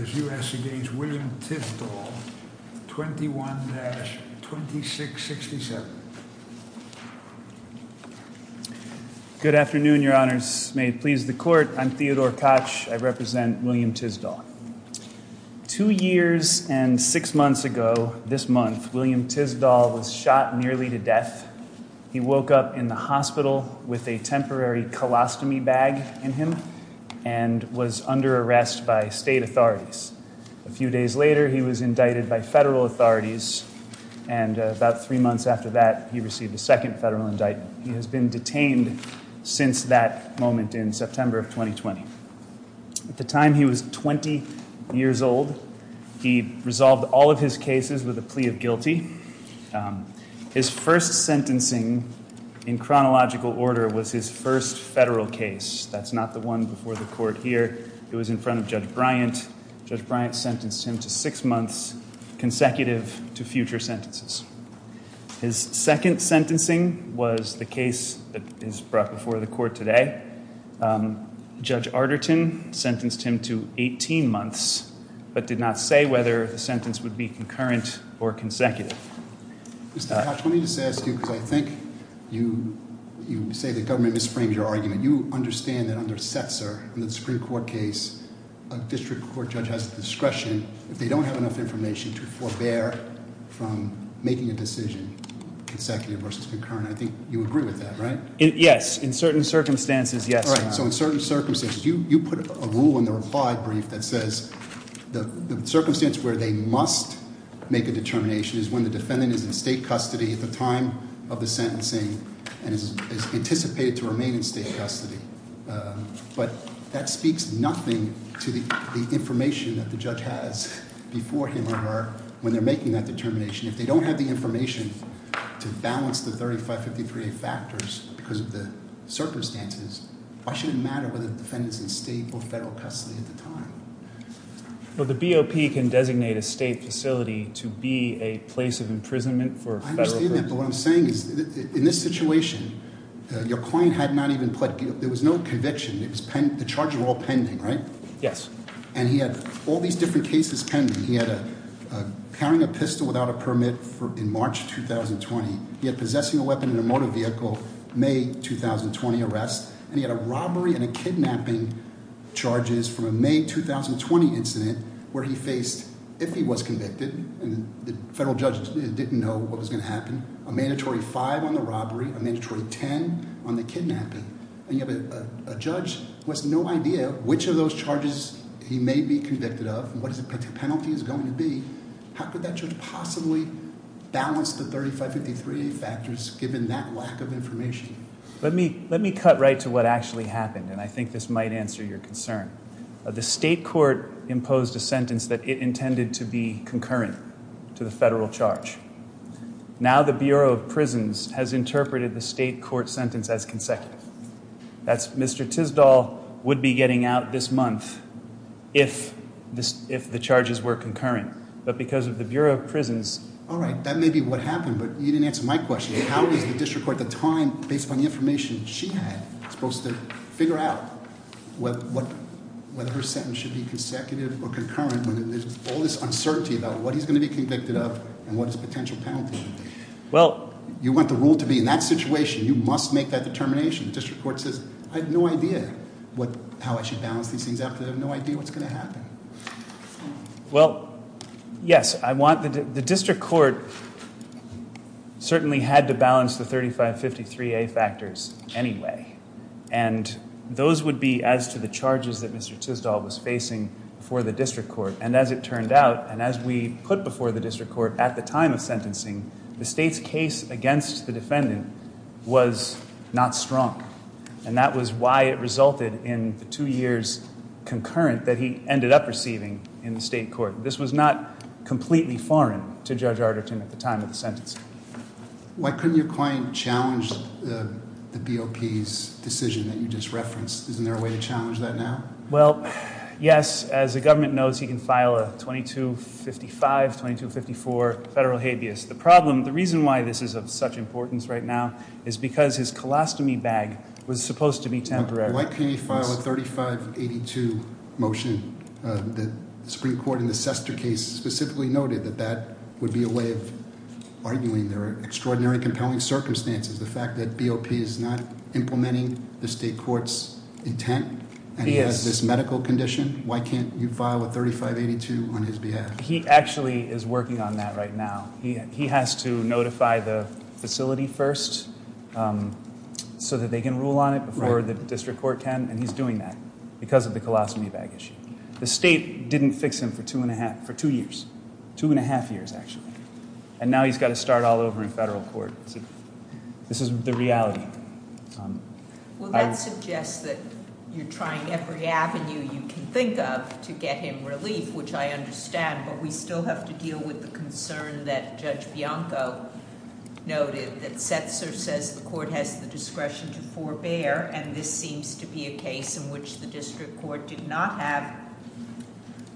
is U.S. against William Tisdol, 21-2667. Good afternoon, your honors. May it please the court. I'm Theodore Koch, I represent William Tisdol. Two years and six months ago this month, William Tisdol was shot nearly to death. He woke up in the hospital with a temporary colostomy bag in him and was under arrest by state authorities. A few days later, he was indicted by federal authorities and about three months after that, he received a second federal indictment. He has been detained since that moment in September of 2020. At the time he was 20 years old, he resolved all of his cases with a plea of guilty. His first sentencing in chronological order was his first federal case. That's not the one before the court here. It was in front of Judge Bryant. Judge Bryant sentenced him to six months consecutive to future sentences. His second sentencing was the case that is brought before the court today. Judge Arterton sentenced him to 18 months, but did not say whether the sentence would be concurrent or consecutive. Mr. Koch, let me just ask you, because I think you say the government misframes your argument. You understand that under Setzer, in the Supreme Court case, a district court judge has the discretion, if they don't have enough information, to forbear from making a decision consecutive versus concurrent. I think you agree with that, right? Yes, in certain circumstances, yes. All right, so in certain circumstances. You put a rule in the reply brief that says the circumstance where they must make a determination is when the defendant is in state custody at the time of the sentencing and is anticipated to remain in state custody. But that speaks nothing to the information that the judge has before him or when they're making that determination. If they don't have the information to balance the 3553A factors because of the circumstances, why should it matter whether the defendant's in state or federal custody at the time? Well, the BOP can designate a state facility to be a place of imprisonment for a federal person. I understand that, but what I'm saying is in this situation, your client had not even pled, there was no conviction. The charges were all pending, right? Yes. And he had all these different cases pending. He had carrying a pistol without a permit in March 2020. He had possessing a weapon in a motor vehicle, May 2020 arrest. And he had a robbery and a kidnapping charges from a May 2020 incident where he faced, if he was convicted, and the federal judge didn't know what was gonna happen, a mandatory five on the robbery, a mandatory 10 on the kidnapping. And you have a judge who has no idea which of those charges he may be convicted of and what his penalty is going to be. How could that judge possibly balance the 3553A factors given that lack of information? Let me cut right to what actually happened. And I think this might answer your concern. The state court imposed a sentence that it intended to be concurrent to the federal charge. Now the Bureau of Prisons has interpreted the state court sentence as consecutive. That's Mr. Tisdall would be getting out this month if the charges were concurrent. But because of the Bureau of Prisons- All right, that may be what happened, but you didn't answer my question. How is the district court at the time, based on the information she had, supposed to figure out whether her sentence should be consecutive or concurrent when there's all this uncertainty about what he's gonna be convicted of and what his potential penalty would be? Well- You want the rule to be in that situation, you must make that determination. The district court says, I have no idea how I should balance these things after they have no idea what's gonna happen. Well, yes, the district court certainly had to balance the 3553A factors anyway. And those would be as to the charges that Mr. Tisdall was facing for the district court. And as it turned out, and as we put before the district court at the time of sentencing, the state's case against the defendant was not strong. And that was why it resulted in the two years concurrent that he ended up receiving in the state court. This was not completely foreign to Judge Arderton at the time of the sentence. Why couldn't your client challenge the BOP's decision that you just referenced? Isn't there a way to challenge that now? Well, yes, as the government knows, he can file a 2255, 2254 federal habeas. The problem, the reason why this is of such importance right now is because his colostomy bag was supposed to be temporary. Why can't he file a 3582 motion? The Supreme Court in the Sester case specifically noted that that would be a way of arguing there are extraordinary compelling circumstances. The fact that BOP is not implementing the state court's intent and has this medical condition, why can't you file a 3582 on his behalf? He actually is working on that right now. He has to notify the facility first so that they can rule on it before the district court can, and he's doing that because of the colostomy bag issue. The state didn't fix him for two and a half, for two years, two and a half years, actually. And now he's got to start all over in federal court. This is the reality. Well, that suggests that you're trying every avenue you can think of to get him relief, which I understand, but we still have to deal with the concern that Judge Bianco noted that Setzer says the court has the discretion to forbear, and this seems to be a case in which the district court did not have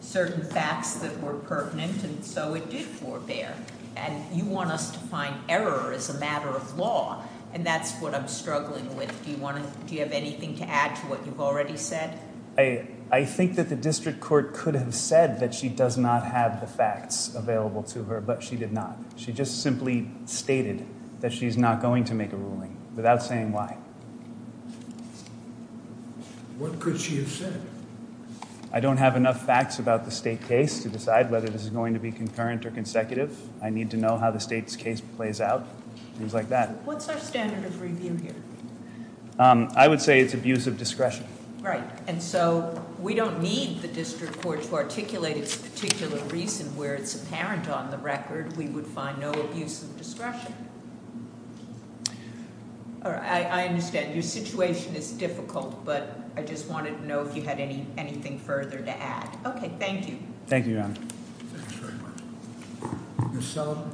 certain facts that were pertinent, and so it did forbear. And you want us to find error as a matter of law, and that's what I'm struggling with. Do you have anything to add to what you've already said? I think that the district court could have said that she does not have the facts available to her, but she did not. She just simply stated that she's not going to make a ruling without saying why. What could she have said? I don't have enough facts about the state case to decide whether this is going to be concurrent or consecutive. I need to know how the state's case plays out, things like that. What's our standard of review here? I would say it's abuse of discretion. Right, and so we don't need the district court to articulate its particular reason where it's apparent on the record we would find no abuse of discretion. I understand your situation is difficult, but I just wanted to know if you had anything further to add. Okay, thank you. Thank you, Your Honor. Thank you very much. Ms. Sullivan.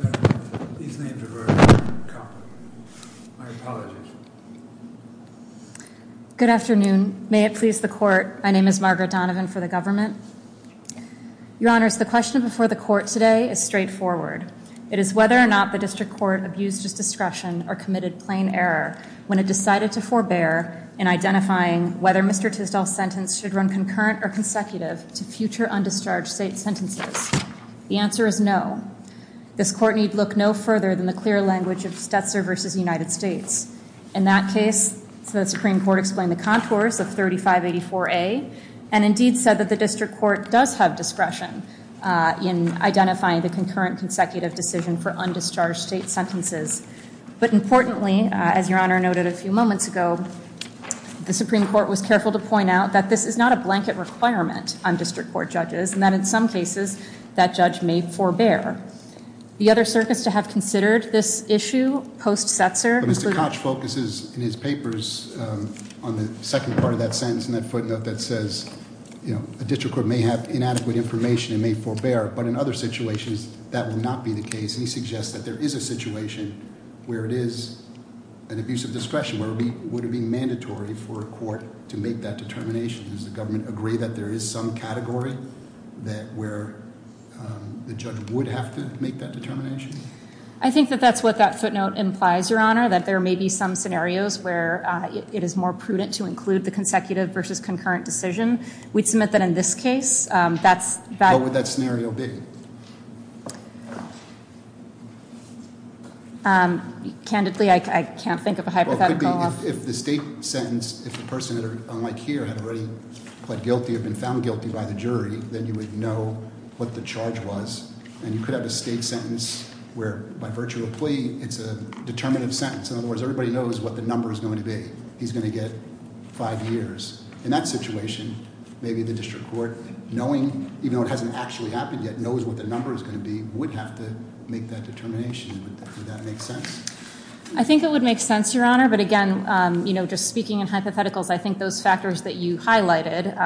Margaret Donovan. These names are very complicated. My apologies. Good afternoon. May it please the court, my name is Margaret Donovan for the government. Your Honors, the question before the court today is straightforward. It is whether or not the district court abused its discretion or committed plain error when it decided to forbear in identifying whether Mr. Tisdall's sentence should run concurrent or consecutive to future undischarged state sentences. The answer is no. This court need look no further than the clear language of Stetzer versus United States. In that case, the Supreme Court explained the contours of 3584A and indeed said that the district court does have discretion in identifying the concurrent consecutive decision for undischarged state sentences. But importantly, as Your Honor noted a few moments ago, the Supreme Court was careful to point out that this is not a blanket requirement on district court judges and that in some cases, that judge may forbear. The other circuits to have considered this issue post-Stetzer include- But Mr. Koch focuses in his papers on the second part of that sentence in that footnote that says a district court may have inadequate information and may forbear, but in other situations, that will not be the case. He suggests that there is a situation where it is an abuse of discretion, where it would be mandatory for a court to make that determination. Does the government agree that there is some category that where the judge would have to make that determination? I think that that's what that footnote implies, Your Honor, that there may be some scenarios where it is more prudent to include the consecutive versus concurrent decision. We'd submit that in this case. That's- What would that scenario be? Candidly, I can't think of a hypothetical. If the state sentence, if the person, unlike here, had already pled guilty or been found guilty by the jury, then you would know what the charge was, and you could have a state sentence where, by virtue of a plea, it's a determinative sentence. In other words, everybody knows what the number is going to be. He's gonna get five years. In that situation, maybe the district court, knowing, even though it hasn't actually happened yet, knows what the number is gonna be, would have to make that determination. Would that make sense? I think it would make sense, Your Honor, but again, just speaking in hypotheticals, I think those factors that you highlighted,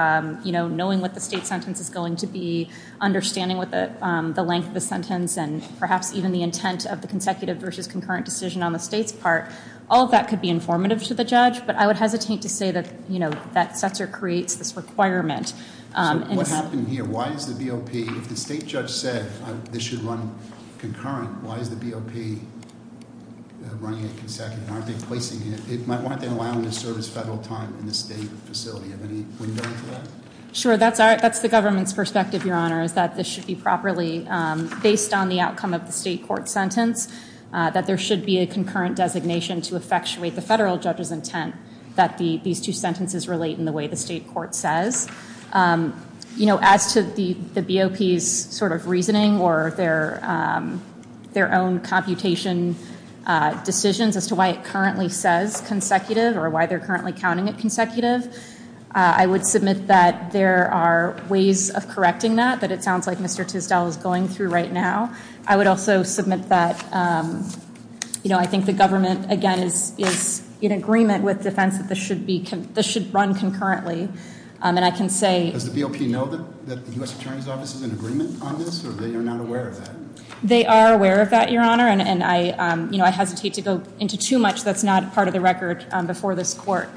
knowing what the state sentence is going to be, understanding what the length of the sentence, and perhaps even the intent of the consecutive versus concurrent decision on the state's part, all of that could be informative to the judge, but I would hesitate to say that that sets or creates this requirement. What happened here? Why is the BOP, if the state judge said this should run concurrent, why is the BOP running it consecutive? Why aren't they placing it? Why aren't they allowing the service federal time in the state facility? Do you have any window into that? Sure, that's the government's perspective, Your Honor, is that this should be properly, based on the outcome of the state court sentence, that there should be a concurrent designation to effectuate the federal judge's intent that these two sentences relate in the way the state court says. As to the BOP's sort of reasoning or their own computation decisions as to why it currently says consecutive or why they're currently counting it consecutive, I would submit that there are ways of correcting that, but it sounds like Mr. Tisdall is going through right now. I would also submit that, I think the government, again, is in agreement with defense that this should run concurrently, and I can say- Does the BOP know that the U.S. Attorney's Office is in agreement on this, or they are not aware of that? They are aware of that, Your Honor, and I hesitate to go into too much that's not part of the record before this court,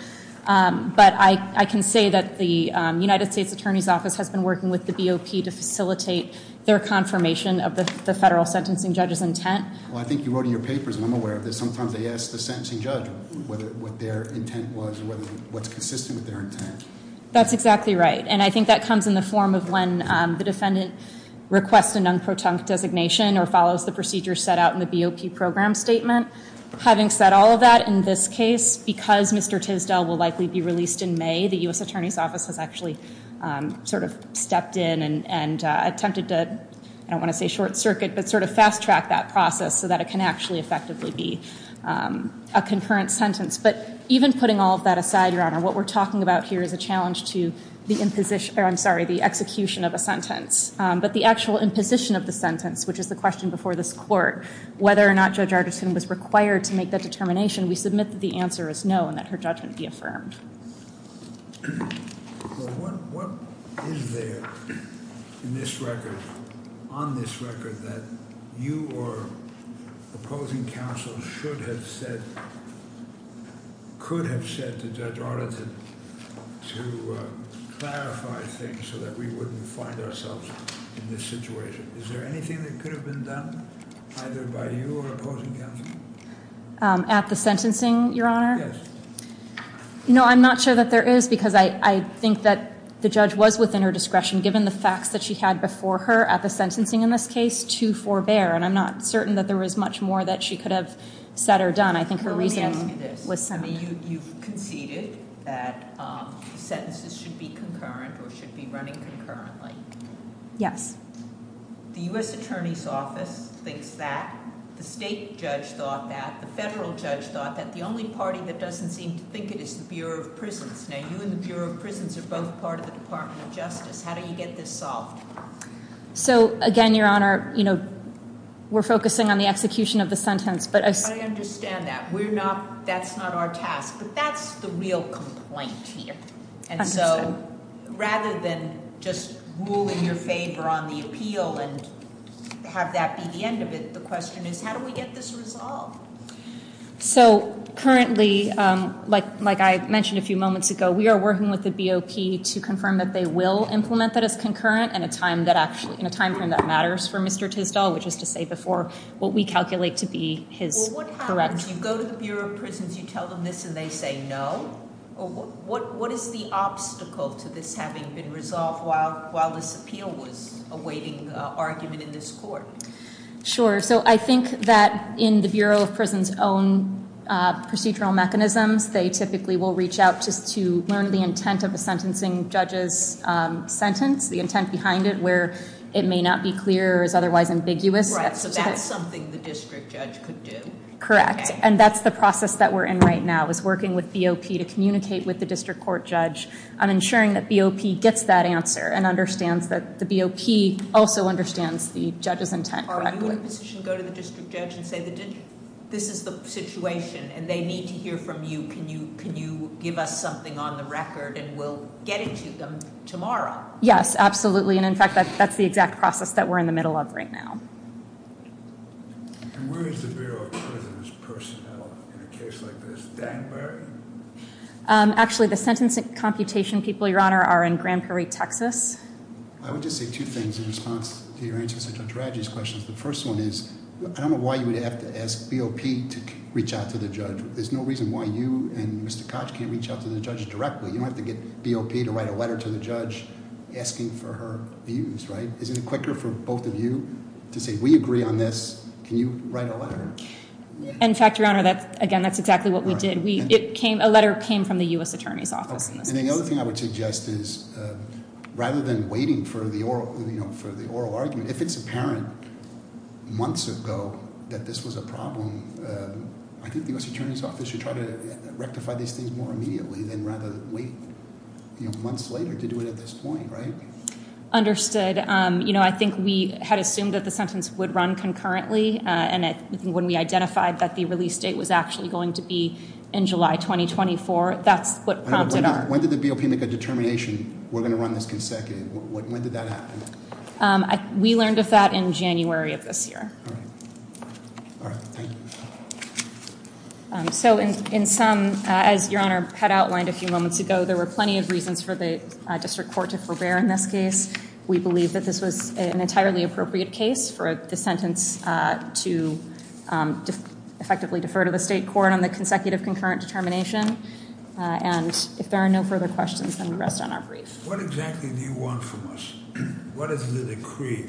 but I can say that the United States Attorney's Office has been working with the BOP to facilitate their confirmation of the federal sentencing judge's intent. Well, I think you wrote in your papers, and I'm aware of this, sometimes they ask the sentencing judge what their intent was, or what's consistent with their intent. That's exactly right, and I think that comes in the form of when the defendant requests an unprotunct designation or follows the procedure set out in the BOP program statement. Having said all of that, in this case, because Mr. Tisdell will likely be released in May, the U.S. Attorney's Office has actually sort of stepped in and attempted to, I don't want to say short circuit, but sort of fast track that process so that it can actually effectively be a concurrent sentence, but even putting all of that aside, Your Honor, what we're talking about here is a challenge to the imposition, or I'm sorry, the execution of a sentence, but the actual imposition of the sentence, which is the question before this court, whether or not Judge Arditon was required to make that determination, we submit that the answer is no and that her judgment be affirmed. Well, what is there in this record, on this record, that you or opposing counsel should have said, could have said to Judge Arditon to clarify things so that we wouldn't find ourselves in this situation? Is there anything that could have been done either by you or opposing counsel? At the sentencing, Your Honor? Yes. No, I'm not sure that there is because I think that the judge was within her discretion given the facts that she had before her at the sentencing in this case to forbear, and I'm not certain that there was much more that she could have said or done. I think her reasoning was something. Let me ask you this. I mean, you've conceded that sentences should be concurrent or should be running concurrently. Yes. The U.S. Attorney's Office thinks that. The state judge thought that. The federal judge thought that. The only party that doesn't seem to think it is the Bureau of Prisons. Now, you and the Bureau of Prisons are both part of the Department of Justice. How do you get this solved? So, again, Your Honor, we're focusing on the execution of the sentence, but I... I understand that. We're not, that's not our task, but that's the real complaint here. And so, rather than just ruling your favor on the appeal and have that be the end of it, the question is, how do we get this resolved? So, currently, like I mentioned a few moments ago, we are working with the BOP to confirm that they will implement that as concurrent in a time frame that matters for Mr. Tisdall, which is to say before what we calculate to be his correct... Well, what happens? You go to the Bureau of Prisons, you tell them this and they say no? Or what is the obstacle to this having been resolved while this appeal was awaiting argument in this court? Sure, so I think that in the Bureau of Prisons' own procedural mechanisms, they typically will reach out just to learn the intent of a sentencing judge's sentence, the intent behind it, where it may not be clear or is otherwise ambiguous. Right, so that's something the district judge could do. Correct, and that's the process that we're in right now is working with BOP to communicate with the district court judge on ensuring that BOP gets that answer and understands that the BOP also understands the judge's intent correctly. Are you in a position to go to the district judge and say this is the situation and they need to hear from you, can you give us something on the record and we'll get it to them tomorrow? Yes, absolutely, and in fact, that's the exact process that we're in the middle of right now. And where is the Bureau of Prisons' personnel in a case like this? Danbury? Actually, the sentence computation people are in Grand Prairie, Texas. I would just say two things in response to your answer to Judge Radji's questions. The first one is, I don't know why you would have to ask BOP to reach out to the judge. There's no reason why you and Mr. Koch can't reach out to the judge directly. You don't have to get BOP to write a letter to the judge asking for her views, right? Isn't it quicker for both of you to say, we agree on this, can you write a letter? In fact, Your Honor, again, that's exactly what we did. A letter came from the US Attorney's Office. And then the other thing I would suggest is, rather than waiting for the oral argument, if it's apparent months ago that this was a problem, I think the US Attorney's Office should try to rectify these things more immediately than rather than wait months later to do it at this point, right? Understood. I think we had assumed that the sentence would run concurrently, and when we identified that the release date was actually going to be in July 2024, that's what prompted our- When did the BOP make a determination, we're going to run this consecutive? When did that happen? We learned of that in January of this year. All right. All right, thank you. So in some, as Your Honor had outlined a few moments ago, there were plenty of reasons for the district court to forbear in this case. We believe that this was an entirely appropriate case for the sentence to effectively defer to the state court on the consecutive concurrent determination, and if there are no further questions, then we rest on our brief. What exactly do you want from us? What is the decree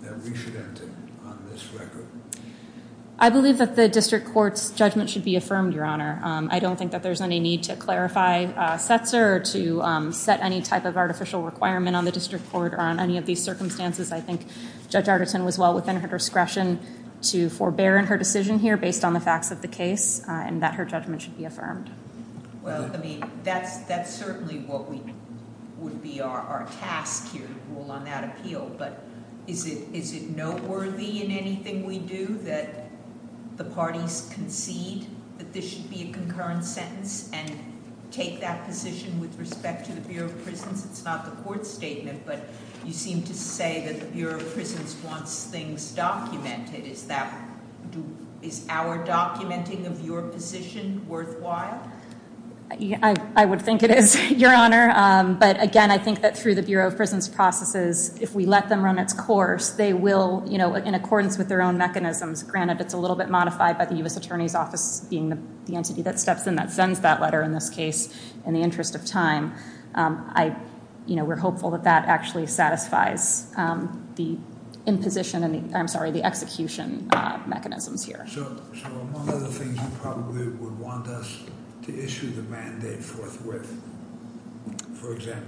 that we should enter on this record? I believe that the district court's judgment should be affirmed, Your Honor. I don't think that there's any need to clarify Setzer or to set any type of artificial requirement on the district court or on any of these circumstances. I think Judge Arterton was well within her discretion to forbear in her decision here based on the facts of the case, and that her judgment should be affirmed. Well, I mean, that's certainly what would be our task here, to rule on that appeal, but is it noteworthy in anything we do that the parties concede that this should be a concurrent sentence and take that position with respect to the Bureau of Prisons? It's not the court's statement, but you seem to say that the Bureau of Prisons wants things documented. Is our documenting of your position worthwhile? I would think it is, Your Honor, but again, I think that through the Bureau of Prisons processes, if we let them run its course, they will, in accordance with their own mechanisms, granted it's a little bit modified by the U.S. Attorney's Office being the entity that steps in, that sends that letter in this case, in the interest of time. We're hopeful that that actually satisfies the imposition, I'm sorry, the execution mechanisms here. So, among other things, you probably would want us to issue the mandate forthwith, for example.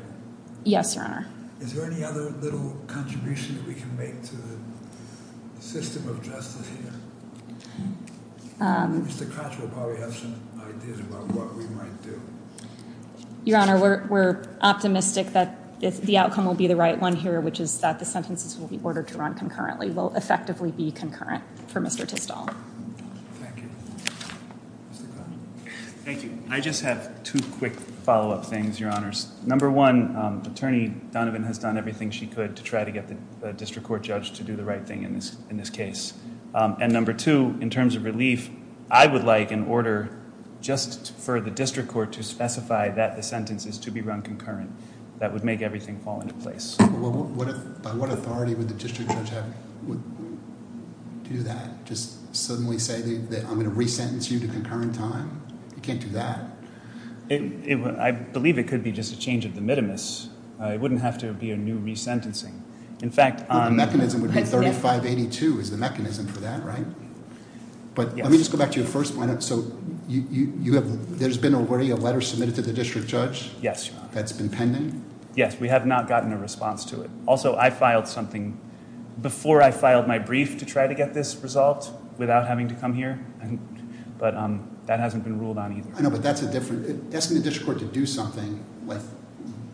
Yes, Your Honor. Is there any other little contribution that we can make to the system of justice here? Mr. Crouch will probably have some ideas about what we might do. Your Honor, we're optimistic that the outcome will be the right one here, which is that the sentences will be ordered to run concurrently, will effectively be concurrent for Mr. Tisdall. Thank you. I just have two quick follow-up things, Your Honors. Number one, Attorney Donovan has done everything she could to try to get the district court judge to do the right thing in this case. And number two, in terms of relief, I would like an order just for the district court to specify that the sentence is to be run concurrent. That would make everything fall into place. By what authority would the district judge do that? Just suddenly say that I'm gonna re-sentence you to concurrent time? You can't do that. I believe it could be just a change of the mitimus. It wouldn't have to be a new re-sentencing. In fact- The mechanism would be 3582 is the mechanism for that, right? But let me just go back to your first point. So there's been already a letter submitted to the district judge? Yes, Your Honor. That's been pending? Yes, we have not gotten a response to it. Also, I filed something before I filed my brief to try to get this resolved without having to come here. But that hasn't been ruled on either. I know, but that's a different, asking the district court to do something with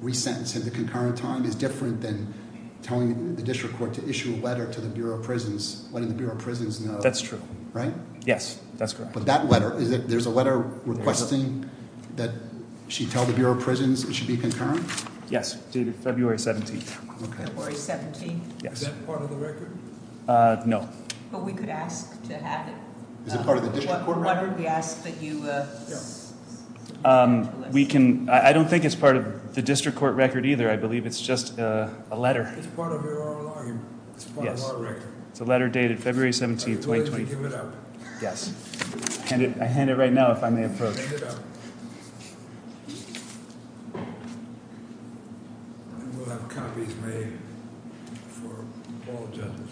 re-sentencing to concurrent time is different than telling the district court to issue a letter to the Bureau of Prisons, letting the Bureau of Prisons know- That's true. Right? Yes, that's correct. But that letter, there's a letter requesting that she tell the Bureau of Prisons it should be concurrent? Yes, dated February 17th. Okay. February 17th. Yes. Is that part of the record? No. But we could ask to have it. Is it part of the district court record? Why don't we ask that you- We can, I don't think it's part of the district court record either. I believe it's just a letter. It's part of our login. Yes. It's part of our record. It's a letter dated February 17th, 2020. Go ahead and give it up. Yes. I hand it right now if I may approach. Hand it up. And we'll have copies made for all judges.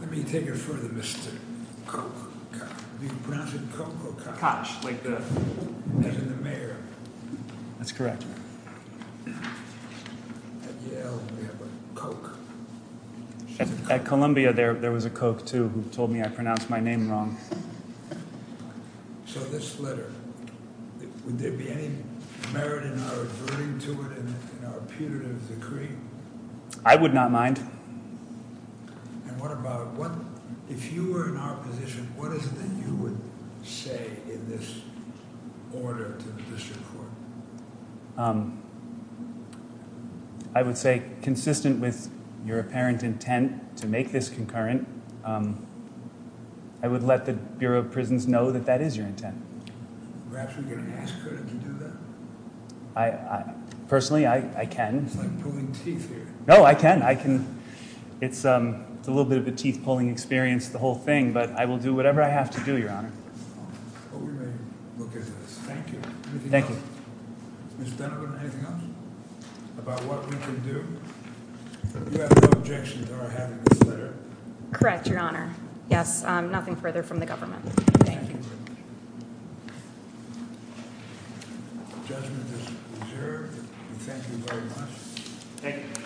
Let me take it further, Mr. Koch. Do you pronounce it Koch or Koch? Koch, like the- As in the mayor. That's correct. At Yale, we have a Coke. At Columbia, there was a Coke too who told me I pronounced my name wrong. So this letter, would there be any merit in our reverting to it in our putative decree? I would not mind. And what about, if you were in our position, what is it that you would say in this order to the district court? I would say consistent with your apparent intent to make this concurrent, I would let the Bureau of Prisons know that that is your intent. Perhaps we could ask her to do that? Personally, I can. It's like pulling teeth here. No, I can. I can. It's a little bit of a teeth-pulling experience, the whole thing, but I will do whatever I have to do, Your Honor. Well, we may look into this. Thank you. Anything else? Thank you. Mr. Donovan, anything else about what we can do? You have no objection to our having this letter. Correct, Your Honor. Yes, nothing further from the government. Thank you. Judgment is observed. Thank you very much. Thank you.